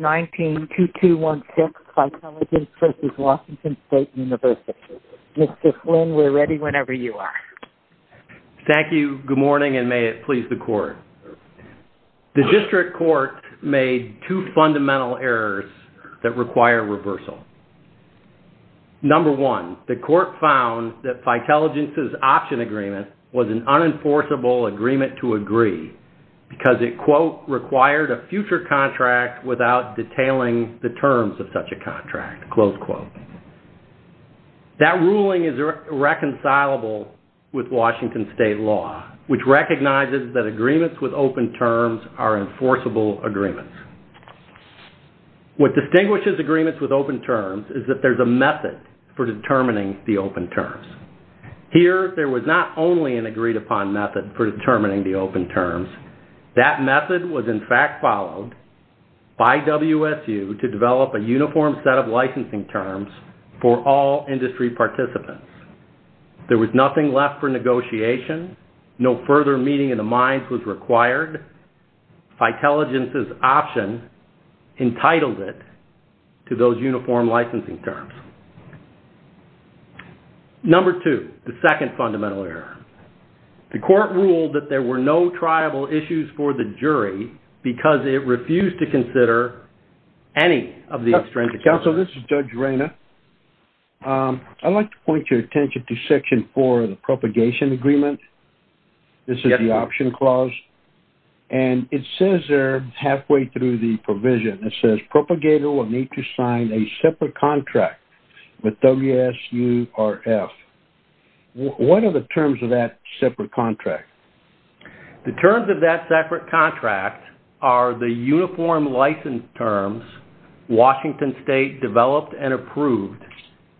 19-2216 Phytelligence v. Washington State University. Mr. Flynn, we're ready whenever you are. Thank you, good morning, and may it please the court. The district court made two fundamental errors that require reversal. Number one, the court found that Phytelligence's option agreement was an unenforceable agreement to agree because it, quote, required a future contract without detailing the terms of such a contract, close quote. That ruling is irreconcilable with Washington State law, which recognizes that agreements with open terms are enforceable agreements. What distinguishes agreements with open terms is that there's a method for determining the open terms. Here, there was not only an agreed-upon method for determining the open terms. That method was, in fact, followed by WSU to develop a uniform set of licensing terms for all industry participants. There was nothing left for negotiation. No further meeting of the minds was required. Phytelligence's option entitled it to those uniform licensing terms. Number two, the second fundamental error. The court ruled that there were no triable issues for the jury because it refused to consider any of the extrinsic... Counsel, this is Judge Reyna. I'd like to point your attention to section four of the propagation agreement. This is the option clause, and it says there, halfway through the provision, it says propagator will need to sign a separate contract with WSURF. What are the terms of that separate contract? The terms of that separate contract are the uniform license terms Washington State developed and approved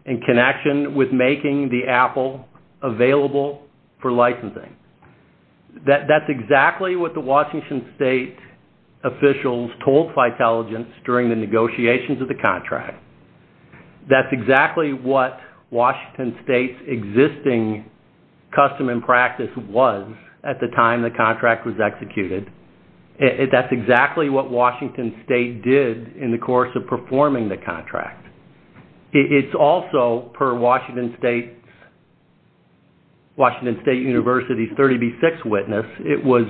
in connection with making the Apple available for licensing. That's exactly what the Washington State officials told Phytelligence during the negotiations of the contract. That's exactly what Washington State's existing custom and practice was at the time the contract was executed. That's exactly what Washington State did in the course of performing the contract. It's also, per Washington State University's 30b6 witness, it was...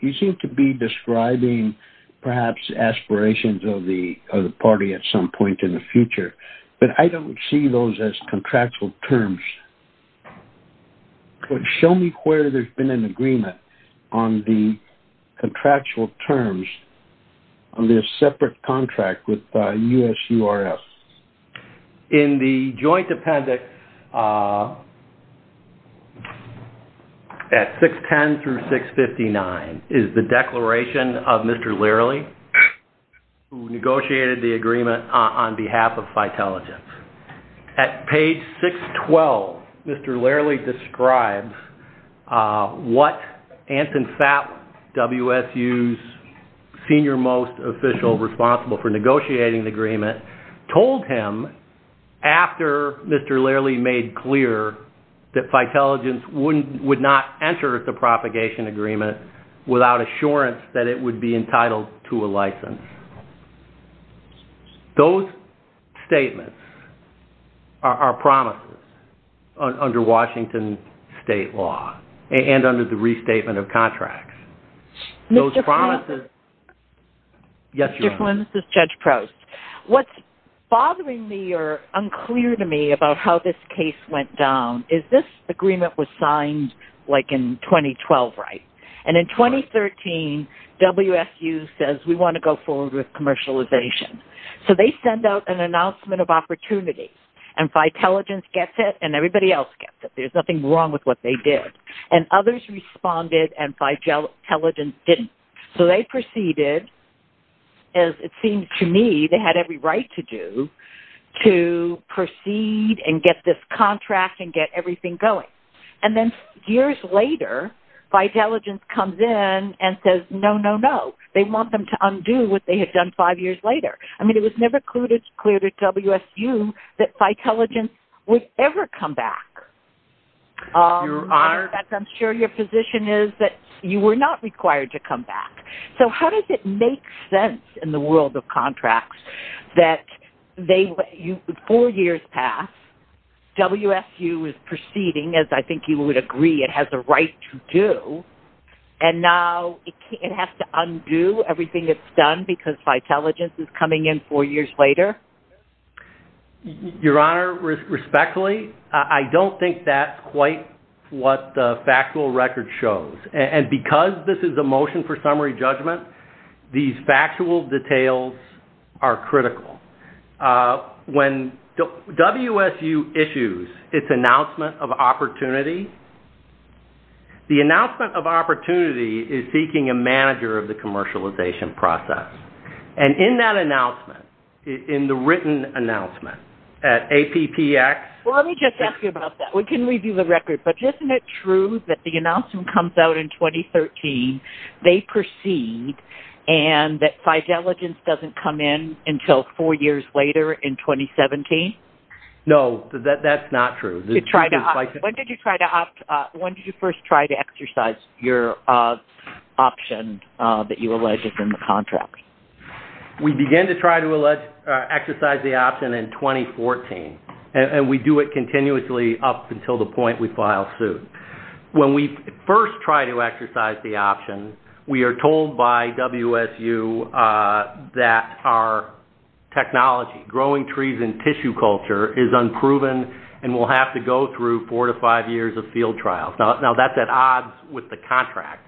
You seem to be describing perhaps aspirations of the party at some point in the future, but I don't see those as contractual terms. Show me where there's been an agreement on the contractual terms on this separate contract with USURF. In the joint appendix at 610 through 659 is the declaration of Mr. Learley who negotiated the agreement on behalf of Phytelligence. At page 612, Mr. Learley describes what Anton Fapp, WSU's senior most official responsible for Mr. Learley made clear that Phytelligence would not enter the propagation agreement without assurance that it would be entitled to a license. Those statements are promises under Washington State law and under the restatement of contracts. Those promises... Mr. Flynn, this is Judge Proust. What's unclear to me about how this case went down is this agreement was signed like in 2012, right? And in 2013, WSU says we want to go forward with commercialization. So they send out an announcement of opportunities and Phytelligence gets it and everybody else gets it. There's nothing wrong with what they did. And others responded and Phytelligence didn't. So they proceeded as it seems to me they had every right to do to proceed and get this contract and get everything going. And then years later Phytelligence comes in and says no no no. They want them to undo what they had done five years later. I mean it was never clear to WSU that Phytelligence would ever come back. I'm sure your position is that you were not required to come back. So how does it make sense in the world of contracts that four years pass, WSU is proceeding as I think you would agree it has a right to do, and now it has to undo everything it's done because Phytelligence is coming in four years later? Your Honor, respectfully, I don't think that's quite what the factual record shows. And because this is a motion for summary judgment, these factual details are critical. When WSU issues its announcement of opportunity, the announcement of opportunity is seeking a manager of the commercialization process. And in that announcement, in the written announcement at APPX Well let me just ask you about that. We can review the record, but isn't it true that the announcement comes out in 2013, they proceed, and that Phytelligence doesn't come in until four years later in 2017? No, that's not true. When did you first try to exercise your option that you allege is in the contract? We began to try to exercise the option in 2014, and we do it continuously up until the point we file suit. When we first try to exercise the option, we are told by WSU that our technology, growing trees in tissue culture, is unproven and we'll have to go through four to five years of field trials. Now that's at odds with the contract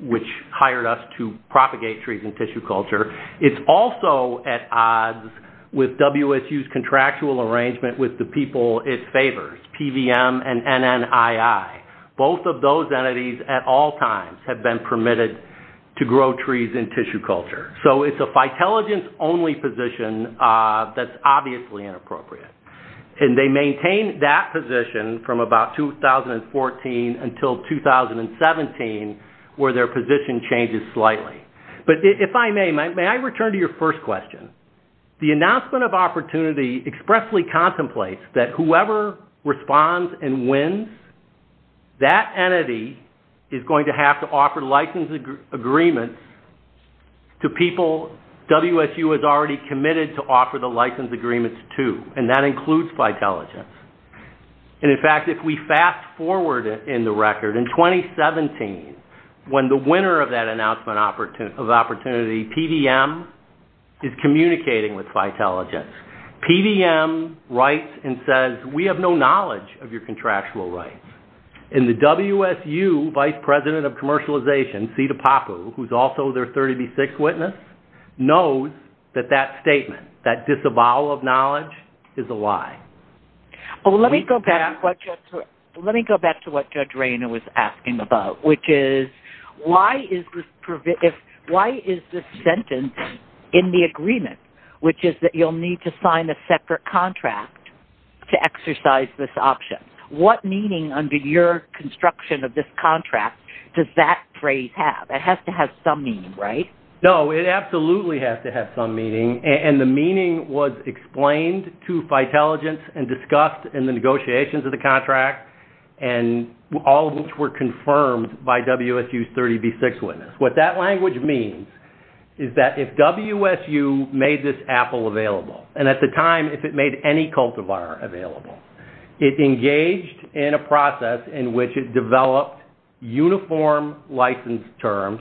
which hired us to propagate trees in tissue culture. It's also at odds with WSU's contractual arrangement with the people it favors, PVM and NNII. Both of those entities at all times have been permitted to grow trees in tissue culture. So it's a Phytelligence only position that's obviously inappropriate. And they maintain that position from about 2014 until 2017 where their position changes slightly. But if I may, may I return to your first question? The announcement of opportunity expressly contemplates that whoever responds and wins, that entity is going to have to offer license agreements to people WSU has already committed to offer the If we fast forward in the record, in 2017 when the winner of that announcement of opportunity, PVM, is communicating with Phytelligence, PVM writes and says we have no knowledge of your contractual rights. And the WSU vice president of commercialization, Sita Pappu, who's also their 30b6 witness, knows that that statement, that disavowal of knowledge, is a lie. Well let me go back to what Judge Rayner was asking about, which is why is this sentence in the agreement, which is that you'll need to sign a separate contract to exercise this option? What meaning under your construction of this contract does that phrase have? It has to have some meaning, right? No, it absolutely has to have some meaning, and the meaning was explained to Phytelligence and discussed in the negotiations of the contract, and all of which were confirmed by WSU's 30b6 witness. What that language means is that if WSU made this Apple available, and at the time if it made any cultivar available, it engaged in a process in which it developed uniform license terms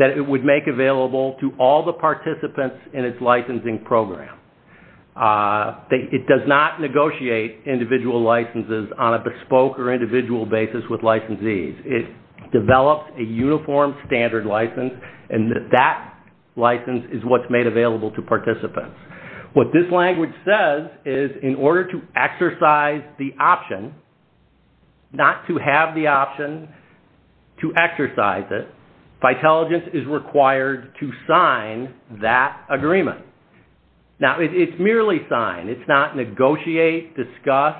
that it would make available to all the participants in its licensing program. It does not negotiate individual licenses on a bespoke or individual basis with licensees. It developed a uniform standard license, and that license is what's made available to participants. What this language says is in order to exercise the option, not to have the option to exercise it, Phytelligence is required to sign that agreement. Now, it's merely signed. It's not negotiate, discuss,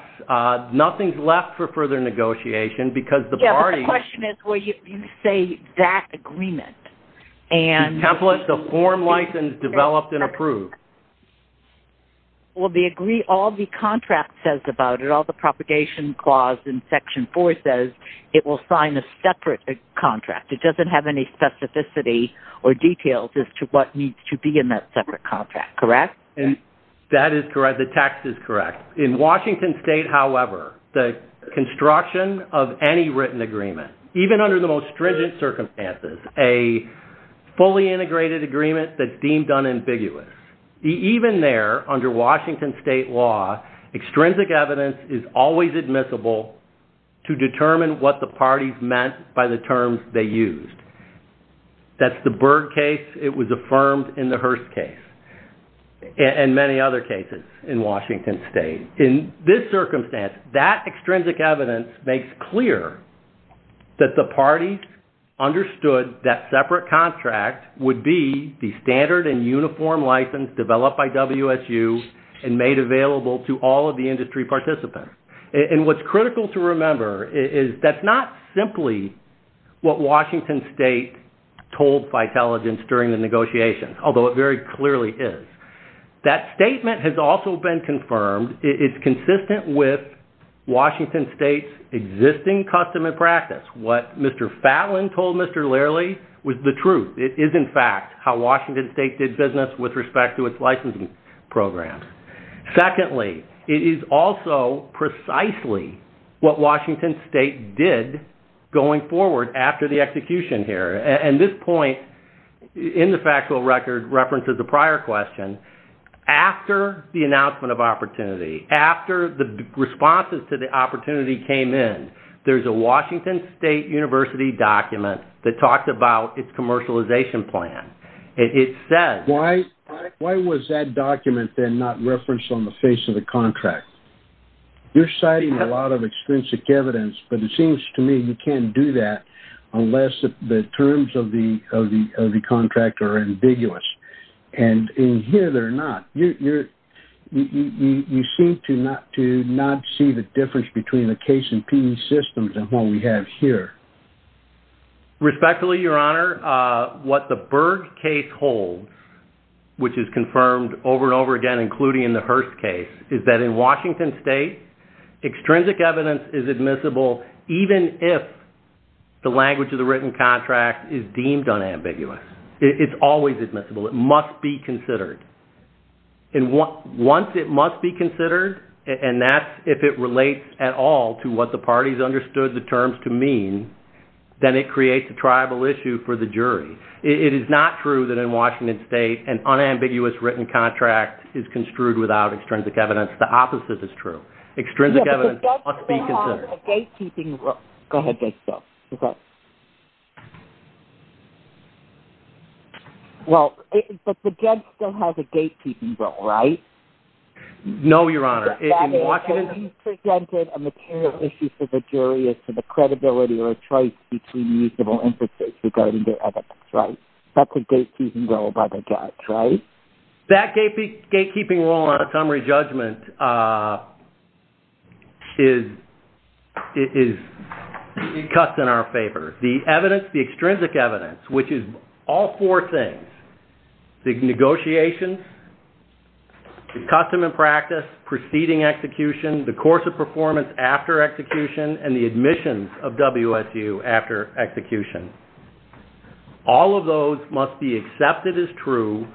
nothing's left for further negotiation because the party... Yeah, the question is, well, you say that agreement, and... Template the form license developed and approved. Well, they agree all the contract says about it, all the propagation clause in Section 4 says it will sign a separate contract. It doesn't have any specificity or details as to what needs to be in that separate contract, correct? And that is correct. The text is correct. In Washington State, however, the construction of any written agreement, even under the most stringent circumstances, a fully integrated agreement that's deemed unambiguous, even there under Washington State law, extrinsic evidence is always admissible to determine what the parties meant by the terms they used. That's the Berg case, it was affirmed in the Hearst case, and many other cases in Washington State. In this circumstance, that extrinsic evidence makes clear that the parties understood that separate contract would be the standard and uniform license developed by WSU and made available to all of the industry participants. And what's critical to remember is that's not simply what Washington State told Fitelligence during the negotiations, although it very clearly is. That statement has also been confirmed, it's consistent with Washington State's existing custom and truth. It is, in fact, how Washington State did business with respect to its licensing programs. Secondly, it is also precisely what Washington State did going forward after the execution here. And this point in the factual record references the prior question. After the announcement of opportunity, after the responses to the opportunity came in, there's a Washington State University document that talks about its commercialization plan. It says... Why was that document then not referenced on the face of the contract? You're citing a lot of extrinsic evidence, but it seems to me you can't do that unless the terms of the contract are ambiguous. And in here, they're not. You seem to not see the difference between the case and PD systems and what we have here. Respectfully, Your Honor, what the Berg case holds, which is confirmed over and over again, including in the Hearst case, is that in Washington State, extrinsic evidence is admissible even if the language of the written contract is deemed unambiguous. It's always admissible. It must be considered. Once it must be considered, and that's if it relates at all to what the parties understood the terms to mean, then it creates a tribal issue for the jury. It is not true that in Washington State, an unambiguous written contract is construed without extrinsic evidence. The opposite is true. Extrinsic evidence must be considered. A gatekeeping role. Go ahead, Judge Stilts. Well, but the judge still has a gatekeeping role, right? No, Your Honor. That is, if he presented a material issue for the jury as to the credibility or choice between usable inferences regarding their evidence, right? That's a gatekeeping role by the judge, right? That gatekeeping role on a summary judgment is cut in our favor. The evidence, the extrinsic evidence, which is all four things, the negotiations, the custom and practice, preceding execution, the course of performance after execution, and the admissions of WSU after execution, all of those must be accepted as true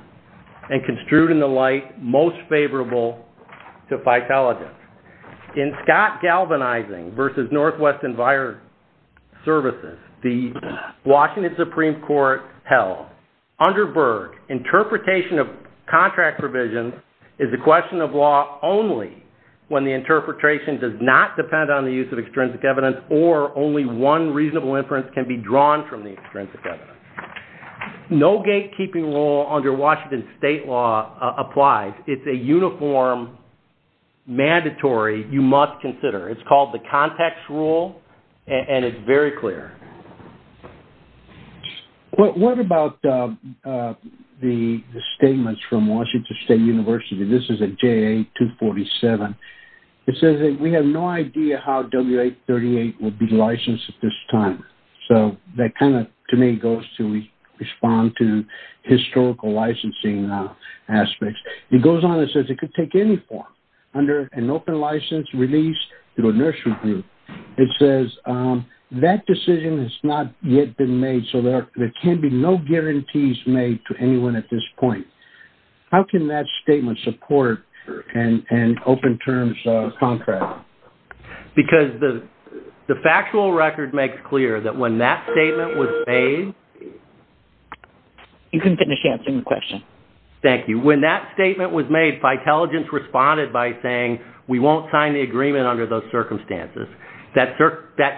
and construed in the light most favorable to FITELIGENT. In Scott Galvanizing versus Northwest EnviroServices, the Washington Supreme Court held, under Berg, interpretation of contract provisions is a question of law only when the interpretation does not depend on the use of extrinsic evidence or only one reasonable inference can be drawn from the extrinsic evidence. No gatekeeping role under Washington state law applies. It's a uniform mandatory you must consider. It's called the context rule and it's very clear. What about the statements from Washington State University? This is a JA-247. It says that we have no idea how W-838 will be licensed at this time. So that kind of, to me, goes to respond to historical licensing aspects. It goes on and says it could take any form. Under an open license released through a nursery group, it says that decision has not yet been made, so there can be no guarantees made to anyone at this point. How can that statement support an open terms contract? Because the factual record makes clear that when that statement was made... You can finish answering the question. Thank you. When that statement was made, Vitaligent responded by saying we won't sign the agreement under those circumstances. That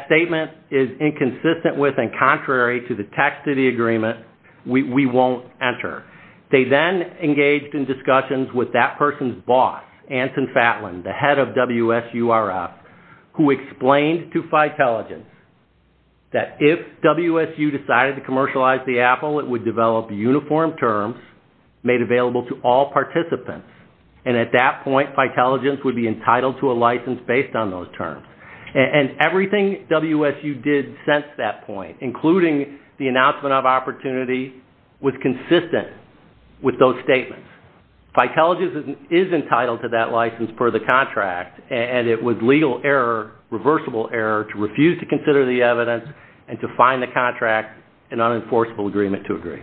statement is inconsistent with and contrary to the text of the agreement. We won't enter. They then engaged in discussions with that person's boss, Anton Fatlin, the head of WSURF, who explained to Vitaligent that if WSU decided to commercialize the Apple, it would develop uniform terms made available to all participants. And at that point, Vitaligent would be entitled to a license based on those terms. And everything WSU did since that point, including the announcement of opportunity, was consistent with those statements. Vitaligent is entitled to that license per the contract, and it was legal error, reversible error, to refuse to consider the evidence and to find the contract an unenforceable agreement to agree.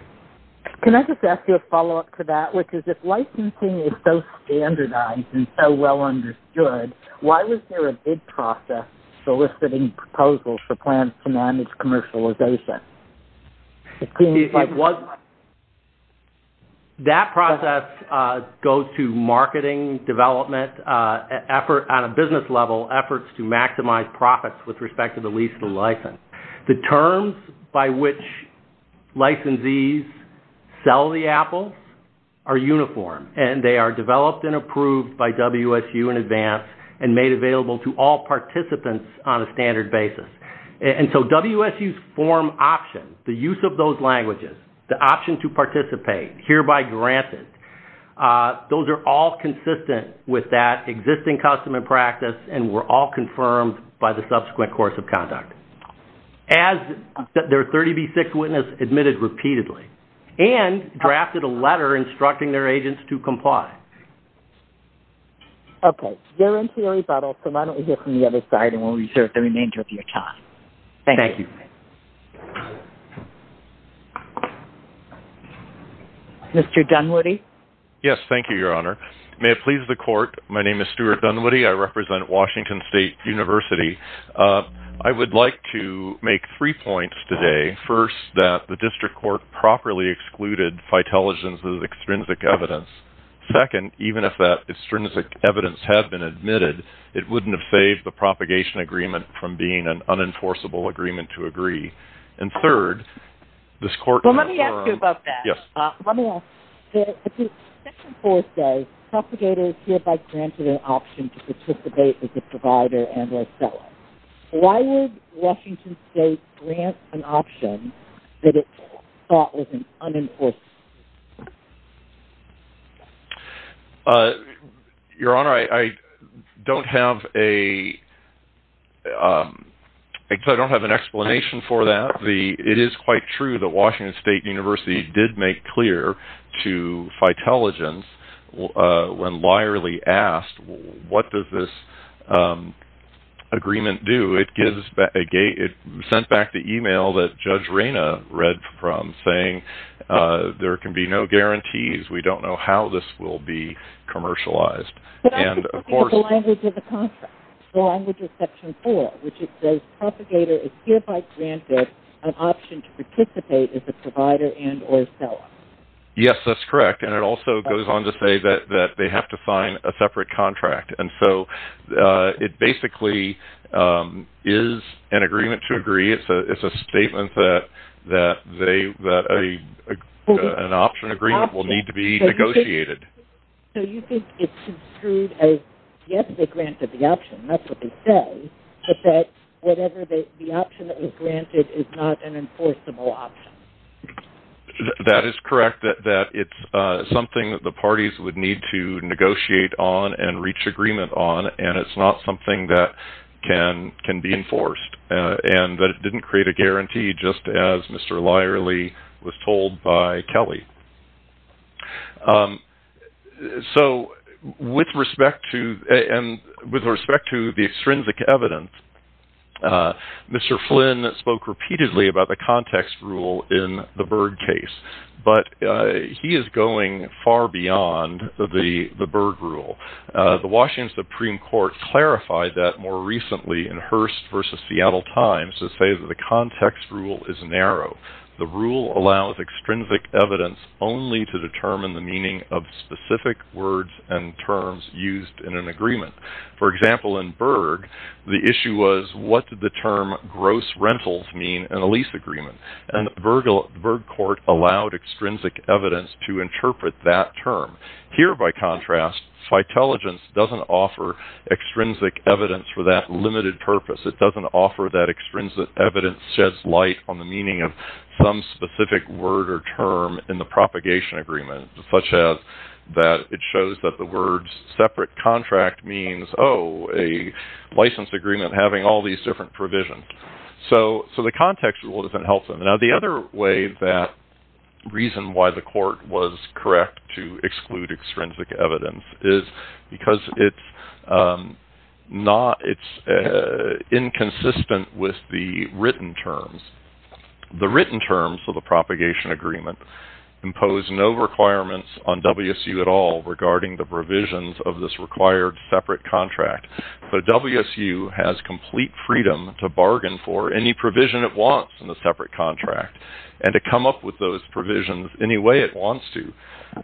Can I just ask you a follow-up to that, which is if licensing is so standardized and so well understood, why was there a bid process soliciting proposals for plans to manage commercialization? That process goes to marketing, development, effort on a business level, efforts to maximize profits with respect to the lease and the license. The terms by which licensees sell the Apple are uniform, and they are developed and approved by WSU in advance and made available to all participants on a standard basis. And so WSU's form option, the use of those languages, the option to participate, hereby granted, those are all consistent with that existing custom and practice and were all confirmed by the subsequent course of conduct. As their 30B6 witness admitted repeatedly and drafted a letter instructing their agents to comply. Okay. You're into your rebuttal, so why don't we hear from the other side and we'll reserve the remainder of your time. Thank you. Mr. Dunwoody? Yes, thank you, Your Honor. May it please the court, my name is Stuart Dunwoody, I represent Washington State University. I would like to make three points today. First, that the district court properly excluded Fiteligen's extrinsic evidence. Second, even if that extrinsic evidence had been admitted, it wouldn't have saved the propagation agreement from being an unenforceable agreement to agree. And third, this court... Well, let me ask you about that. Yes. Let me ask, at the second fourth day, propagators hereby granted an option to participate with the provider and or seller. Why would Washington State grant an option that it thought was an unenforceable? Your Honor, I don't have a... I don't have an explanation for that. It is quite true that Washington State University did make clear to Fiteligen's, when liarly asked, what does this agreement do? It gives... It sent back the email that Judge Reyna read from, saying there can be no guarantees. We don't know how this will be commercialized. But I'm just looking at the language of the contract. The language of section four, which it says, propagator is hereby granted an option to participate with the provider and or seller. Yes, that's correct. And it also goes on to say that they have to sign a separate contract. And so it basically is an agreement to agree. It's a statement that an option agreement will need to be negotiated. So you think it's construed as, yes, they granted the option. That's what they say. But that whatever the option that was granted is not an enforceable option. That is correct, that it's something that the parties would need to negotiate on and reach agreement on. And it's not something that can be enforced. And that it didn't create a guarantee, just as Mr. Lierley was told by Kelly. So with respect to the extrinsic evidence, Mr. Flynn spoke repeatedly about the context rule in the Byrd case. But he is going far beyond the Byrd rule. The Washington Supreme Court clarified that more recently in Hearst v. Seattle Times to say that the context rule is narrow. The rule allows extrinsic evidence only to determine the meaning of specific words and terms used in an agreement. For example, in Byrd, the issue was what did the term gross rentals mean in a lease agreement? And the Byrd court allowed extrinsic evidence to interpret that term. Here, by contrast, Fitelligence doesn't offer extrinsic evidence for that limited purpose. It doesn't offer that extrinsic evidence sheds light on the meaning of some specific word or term in the propagation agreement, such that it shows that the word separate contract means, oh, a licensed agreement having all these different provisions. So the context rule doesn't help them. Now, the other way that reason why the court was correct to exclude extrinsic evidence is because it's inconsistent with the written terms. The written terms of the propagation agreement impose no requirements on WSU at all regarding the provisions of this required separate contract. So WSU has complete freedom to bargain for any provision it wants in the separate contract and to come up with those provisions any way it wants to.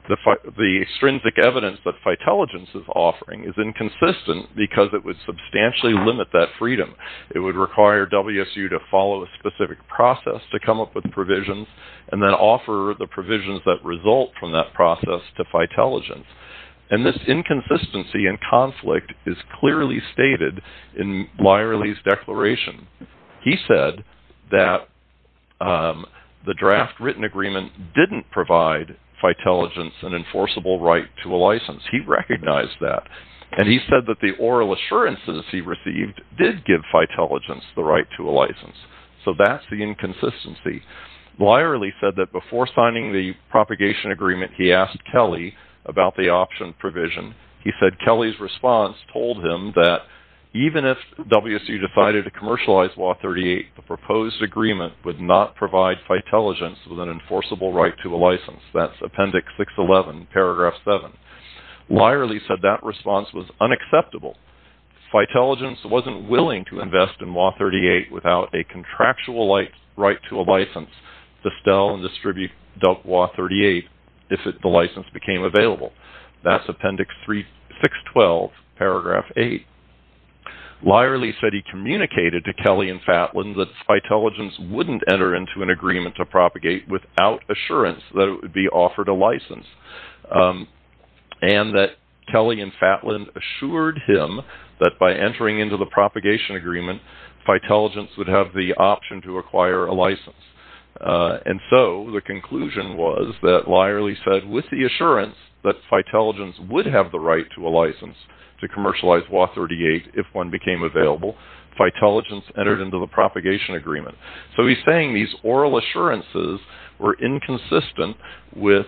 The extrinsic evidence that Fitelligence is offering is inconsistent because it would substantially limit that freedom. It would require WSU to follow a specific process to come up with provisions and then offer the provisions that result from that process to Fitelligence. And this inconsistency and conflict is clearly stated in Leierle's declaration. He said that the draft written agreement didn't provide Fitelligence an enforceable right to a license. He recognized that. And he said that the oral assurances he received did give Fitelligence the right to a license. So that's the inconsistency. Leierle said that before signing the propagation agreement, he asked Kelly about the option provision. He said Kelly's response told him that even if WSU decided to commercialize Law 38, the proposed agreement would not provide Fitelligence with an enforceable right to a license. That's Appendix 611, Paragraph 7. Leierle said that response was unacceptable. Fitelligence wasn't willing to invest in Law 38 without a contractual right to a license to sell and distribute WSU Law 38 if the license became available. That's Appendix 612, Paragraph 8. Leierle said he communicated to Kelly and Fatlin that Fitelligence wouldn't enter into an agreement to propagate without assurance that it would be offered a license. And that Kelly and Fatlin assured him that by entering into the propagation agreement, Fitelligence would have the option to acquire a license. And so the conclusion was that Leierle said with the assurance that Fitelligence would have the right to a license to commercialize Law 38 if one became available, Fitelligence entered into the propagation agreement. So he's saying these oral assurances were inconsistent with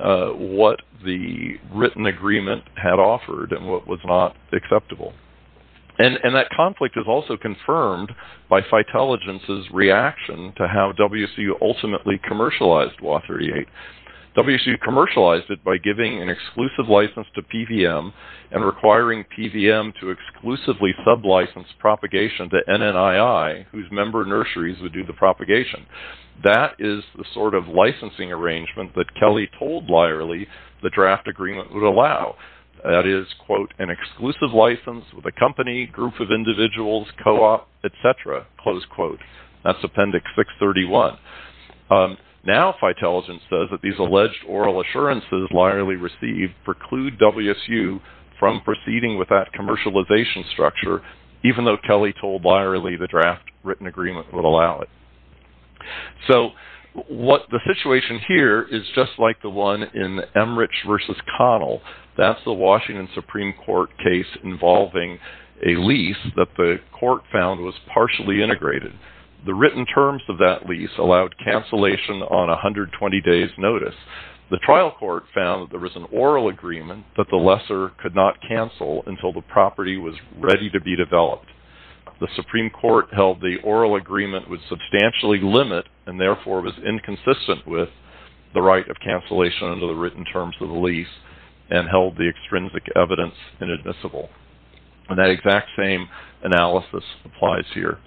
what the written agreement had offered and what was not acceptable. And that conflict is also confirmed by Fitelligence's reaction to how WSU ultimately commercialized Law 38. WSU commercialized it by giving an exclusive license to PVM and requiring PVM to exclusively sub-license propagation to NNII, whose member nurseries would do the propagation. That is the sort of licensing arrangement that Kelly told Leierle the draft agreement would allow. That is, quote, an exclusive license with a company, group of individuals, co-op, etc., close quote. That's Appendix 631. Now Fitelligence says that these alleged oral assurances Leierle received preclude WSU from proceeding with that commercialization structure, even though Kelly told Leierle the draft written agreement would allow it. So the situation here is just like the one in Emmerich v. Connell. That's the Washington Supreme Court case involving a lease that the court found was partially integrated. The written terms of that lease allowed cancellation on 120 days' notice. The trial court found that there was an oral agreement that the lesser could not cancel until the property was ready to be developed. The Supreme Court held the oral agreement would substantially limit and therefore was inconsistent with the right of cancellation under the written terms of the lease and held the extrinsic evidence inadmissible. And that exact same analysis applies here.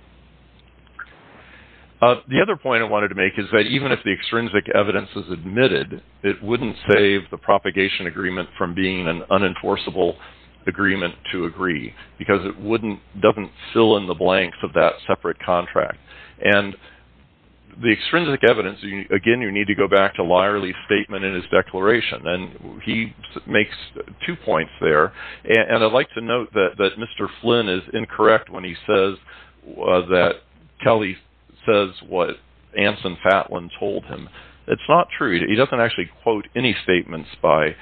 The other point I wanted to make is that even if the extrinsic evidence is admitted, it wouldn't save the propagation agreement from being an unenforceable agreement to agree because it doesn't fill in the blanks of that separate contract. And the extrinsic evidence, again, you need to go back to Leierle's statement in his declaration. And he makes two points there. And I'd like to note that Mr. Flynn is incorrect when he says that Kelly says what Anson Fatlin told him. It's not true. He doesn't actually quote any statements by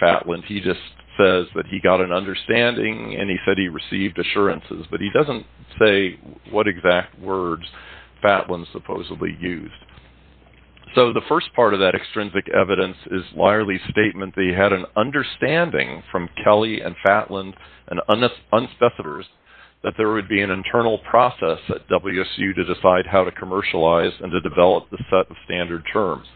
Fatlin. He just says that he got an understanding and he said he received assurances. But he doesn't say what exact words Fatlin supposedly used. So the first part of that extrinsic evidence is Leierle's statement that he had an understanding from Kelly and Fatlin and unspecified that there would be an internal process at WSU to decide how to commercialize and to develop the set of standard terms.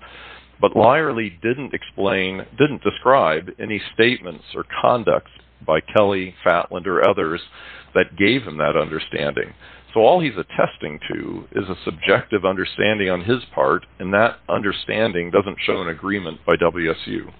But Leierle didn't explain, didn't describe any statements or conduct by Kelly, Fatlin, or others that gave him that understanding. So all he's attesting to is a subjective understanding on his part, and that understanding doesn't show an agreement by WSU.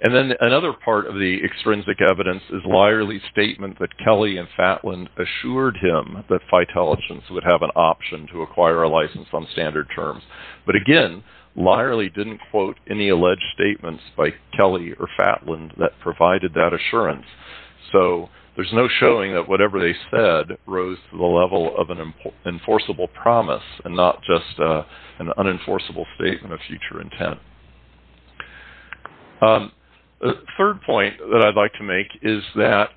And then another part of the extrinsic evidence is Leierle's statement that Kelly and Fatlin assured him that Phytelligence would have an option to acquire a license on standard terms. But again, Leierle didn't quote any alleged statements by Kelly or Fatlin that provided that assurance. So there's no showing that whatever they said rose to the level of an enforceable promise and not just an unenforceable statement of future intent. The third point that I'd like to make is that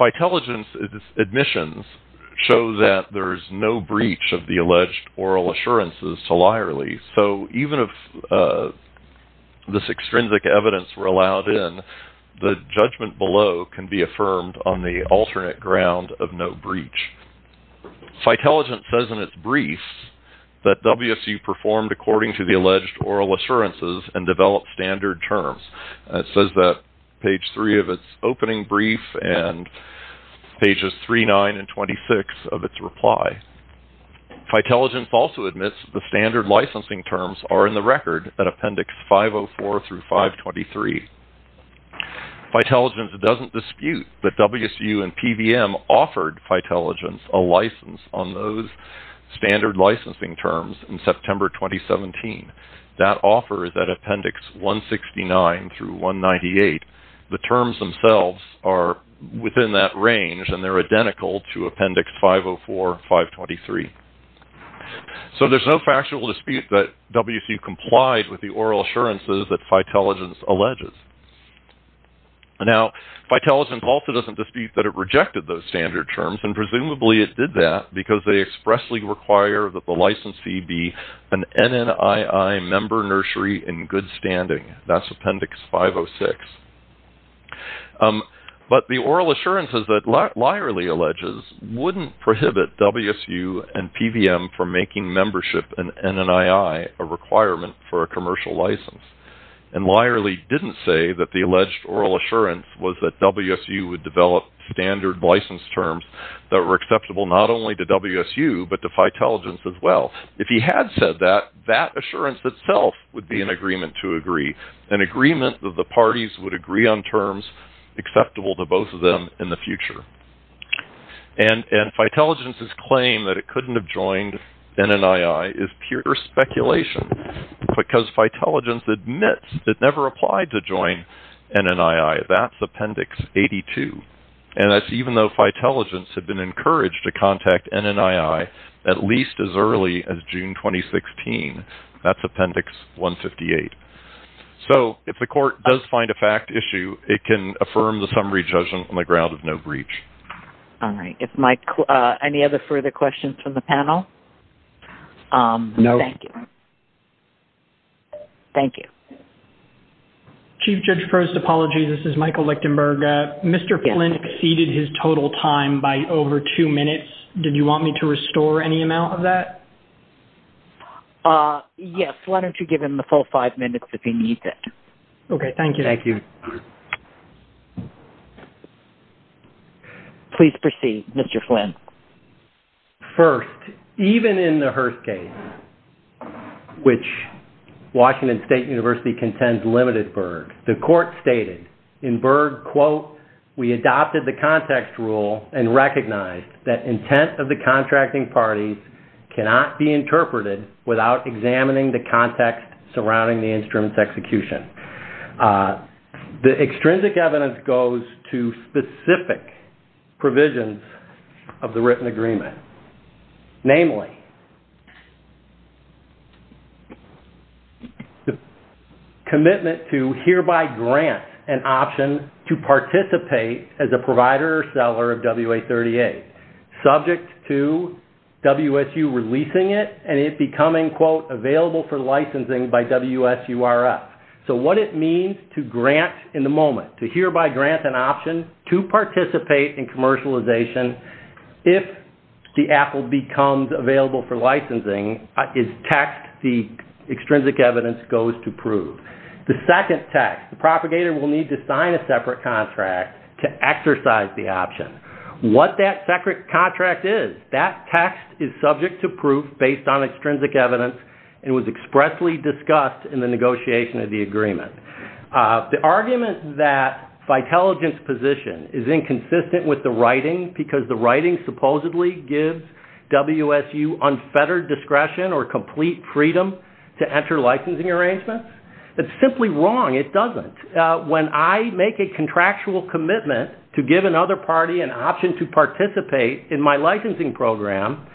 Phytelligence's admissions show that there's no breach of the alleged oral assurances to Leierle. So even if this extrinsic evidence were allowed in, the judgment below can be affirmed on the alternate ground of no breach. Phytelligence says in its briefs that WSU performed according to the alleged oral assurances and developed standard terms. It says that page 3 of its opening brief and pages 3, 9, and 26 of its reply. Phytelligence also admits the standard licensing terms are in the record at appendix 504 through 523. Phytelligence doesn't dispute that WSU and PVM offered Phytelligence a license on those standard licensing terms in September 2017. That offer is at appendix 169 through 198. The terms themselves are within that range and they're identical to appendix 504, 523. So there's no factual dispute that WSU complied with the oral assurances that Phytelligence alleges. Now, Phytelligence also doesn't dispute that it rejected those standard terms and presumably it did that because they expressly require that the license fee be an NNII member nursery in good standing. That's appendix 506. But the oral assurances that Lyerly alleges wouldn't prohibit WSU and PVM from making membership in NNII a requirement for a commercial license. And Lyerly didn't say that the alleged oral assurance was that WSU would develop standard license terms that were acceptable not only to WSU but to Phytelligence as well. If he had said that, that assurance itself would be an agreement to agree, an agreement that the parties would agree on terms acceptable to both of them in the future. And Phytelligence's claim that it couldn't have joined NNII is pure speculation because Phytelligence admits it never applied to join NNII. That's appendix 82. And that's even though Phytelligence had been encouraged to contact NNII at least as early as June 2016. That's appendix 158. So if the court does find a fact issue, it can affirm the summary judgment on the ground of no breach. All right. Any other further questions from the panel? No. Thank you. Thank you. Chief Judge Frost, apologies. This is Michael Lichtenberg. Mr. Flynn exceeded his total time by over two minutes. Did you want me to restore any amount of that? Yes. Why don't you give him the full five minutes if he needs it? Okay. Thank you. Thank you. Please proceed, Mr. Flynn. First, even in the Hearst case, which Washington State University contends limited Berg, the court stated in Berg, quote, we adopted the context rule and recognized that intent of the contracting parties cannot be interpreted without examining the context surrounding the instrument's execution. The extrinsic evidence goes to specific provisions of the written agreement. Namely, commitment to hereby grant an option to participate as a provider or seller of WA-38, subject to WSU releasing it and it becoming, quote, available for licensing by WSURF. So what it means to grant in the moment, to hereby grant an option to participate in commercialization if the Apple becomes available for licensing is text the extrinsic evidence goes to prove. The second text, the propagator will need to sign a separate contract to exercise the option. What that separate contract is, that text is subject to proof based on extrinsic evidence and was expressly discussed in the negotiation of the agreement. The argument that Vitaligent's position is inconsistent with the writing because the writing supposedly gives WSU unfettered discretion or complete freedom to enter licensing arrangements, that's simply wrong. It doesn't. When I make a contractual commitment to give another party an option to participate in my licensing program,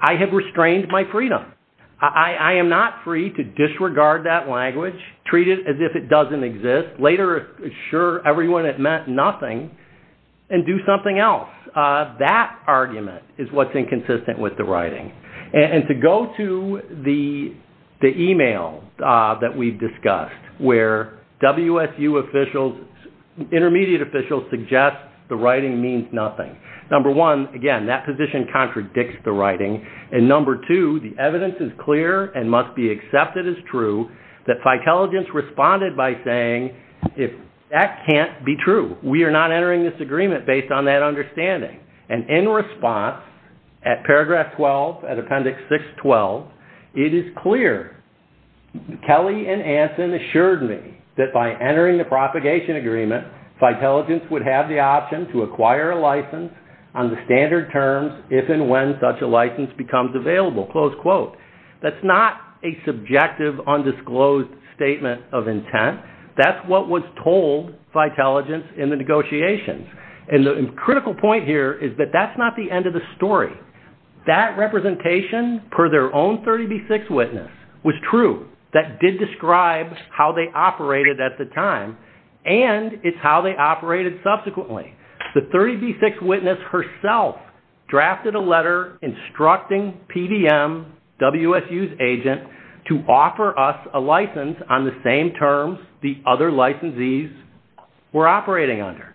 I have restrained my freedom. I am not free to disregard that language, treat it as if it doesn't exist, later assure everyone it meant nothing, and do something else. That argument is what's inconsistent with the writing. And to go to the email that we've discussed where WSU officials, intermediate officials, suggest the writing means nothing. Number one, again, that position contradicts the writing. And number two, the evidence is clear and must be accepted as true that Vitaligent's responded by saying that can't be true. We are not entering this agreement based on that understanding. And in response at paragraph 12, at appendix 612, it is clear Kelly and Anson assured me that by entering the propagation agreement, Vitaligent's would have the option to acquire a license on the standard terms if and when such a license becomes available, close quote. That's not a subjective, undisclosed statement of intent. That's what was told Vitaligent in the negotiations. And the critical point here is that that's not the end of the story. That representation, per their own 30B6 witness, was true. That did describe how they operated at the time. And it's how they operated subsequently. The 30B6 witness herself drafted a letter the other licensees were operating under.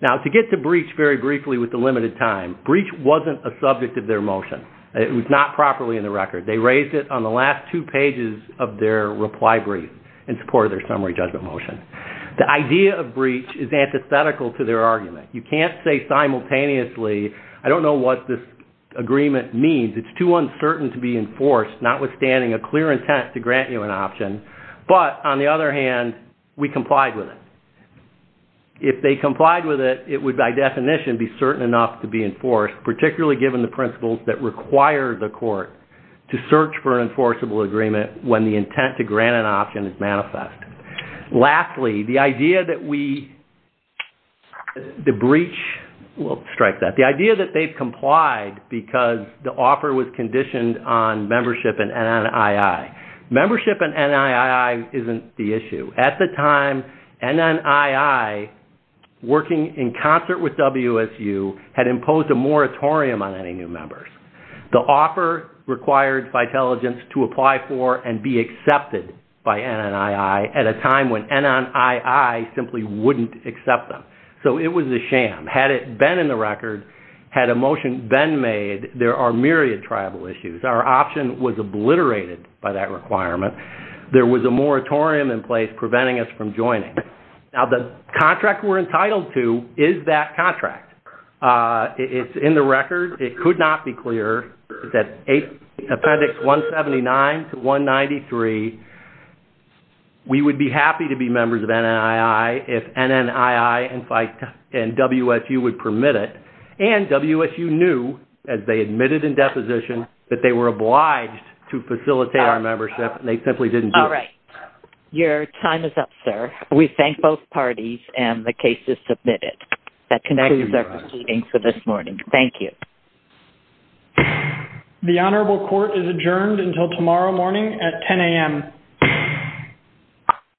Now, to get to breach very briefly with the limited time, breach wasn't a subject of their motion. It was not properly in the record. They raised it on the last two pages of their reply brief in support of their summary judgment motion. The idea of breach is antithetical to their argument. You can't say simultaneously, I don't know what this agreement means. notwithstanding a clear intent to grant you an option, but, on the other hand, we complied with it. If they complied with it, it would, by definition, be certain enough to be enforced, particularly given the principles that require the court to search for an enforceable agreement when the intent to grant an option is manifest. Lastly, the idea that we... The breach... We'll strike that. The idea that they've complied because the offer was conditioned on membership in NII. Membership in NII isn't the issue. At the time, NNII, working in concert with WSU, had imposed a moratorium on any new members. The offer required Vitaligence to apply for and be accepted by NNII at a time when NNII simply wouldn't accept them. So it was a sham. Had it been in the record, had a motion been made, there are myriad tribal issues. Our option was obliterated by that requirement. There was a moratorium in place preventing us from joining. Now, the contract we're entitled to is that contract. It's in the record. It could not be clearer. It's at Appendix 179 to 193. We would be happy to be members of NNII if NNII and WSU would permit it. And WSU knew, as they admitted in deposition, that they were obliged to facilitate our membership, and they simply didn't do it. All right. Your time is up, sir. We thank both parties, and the case is submitted. That concludes our proceedings for this morning. Thank you. The Honorable Court is adjourned until tomorrow morning at 10 a.m.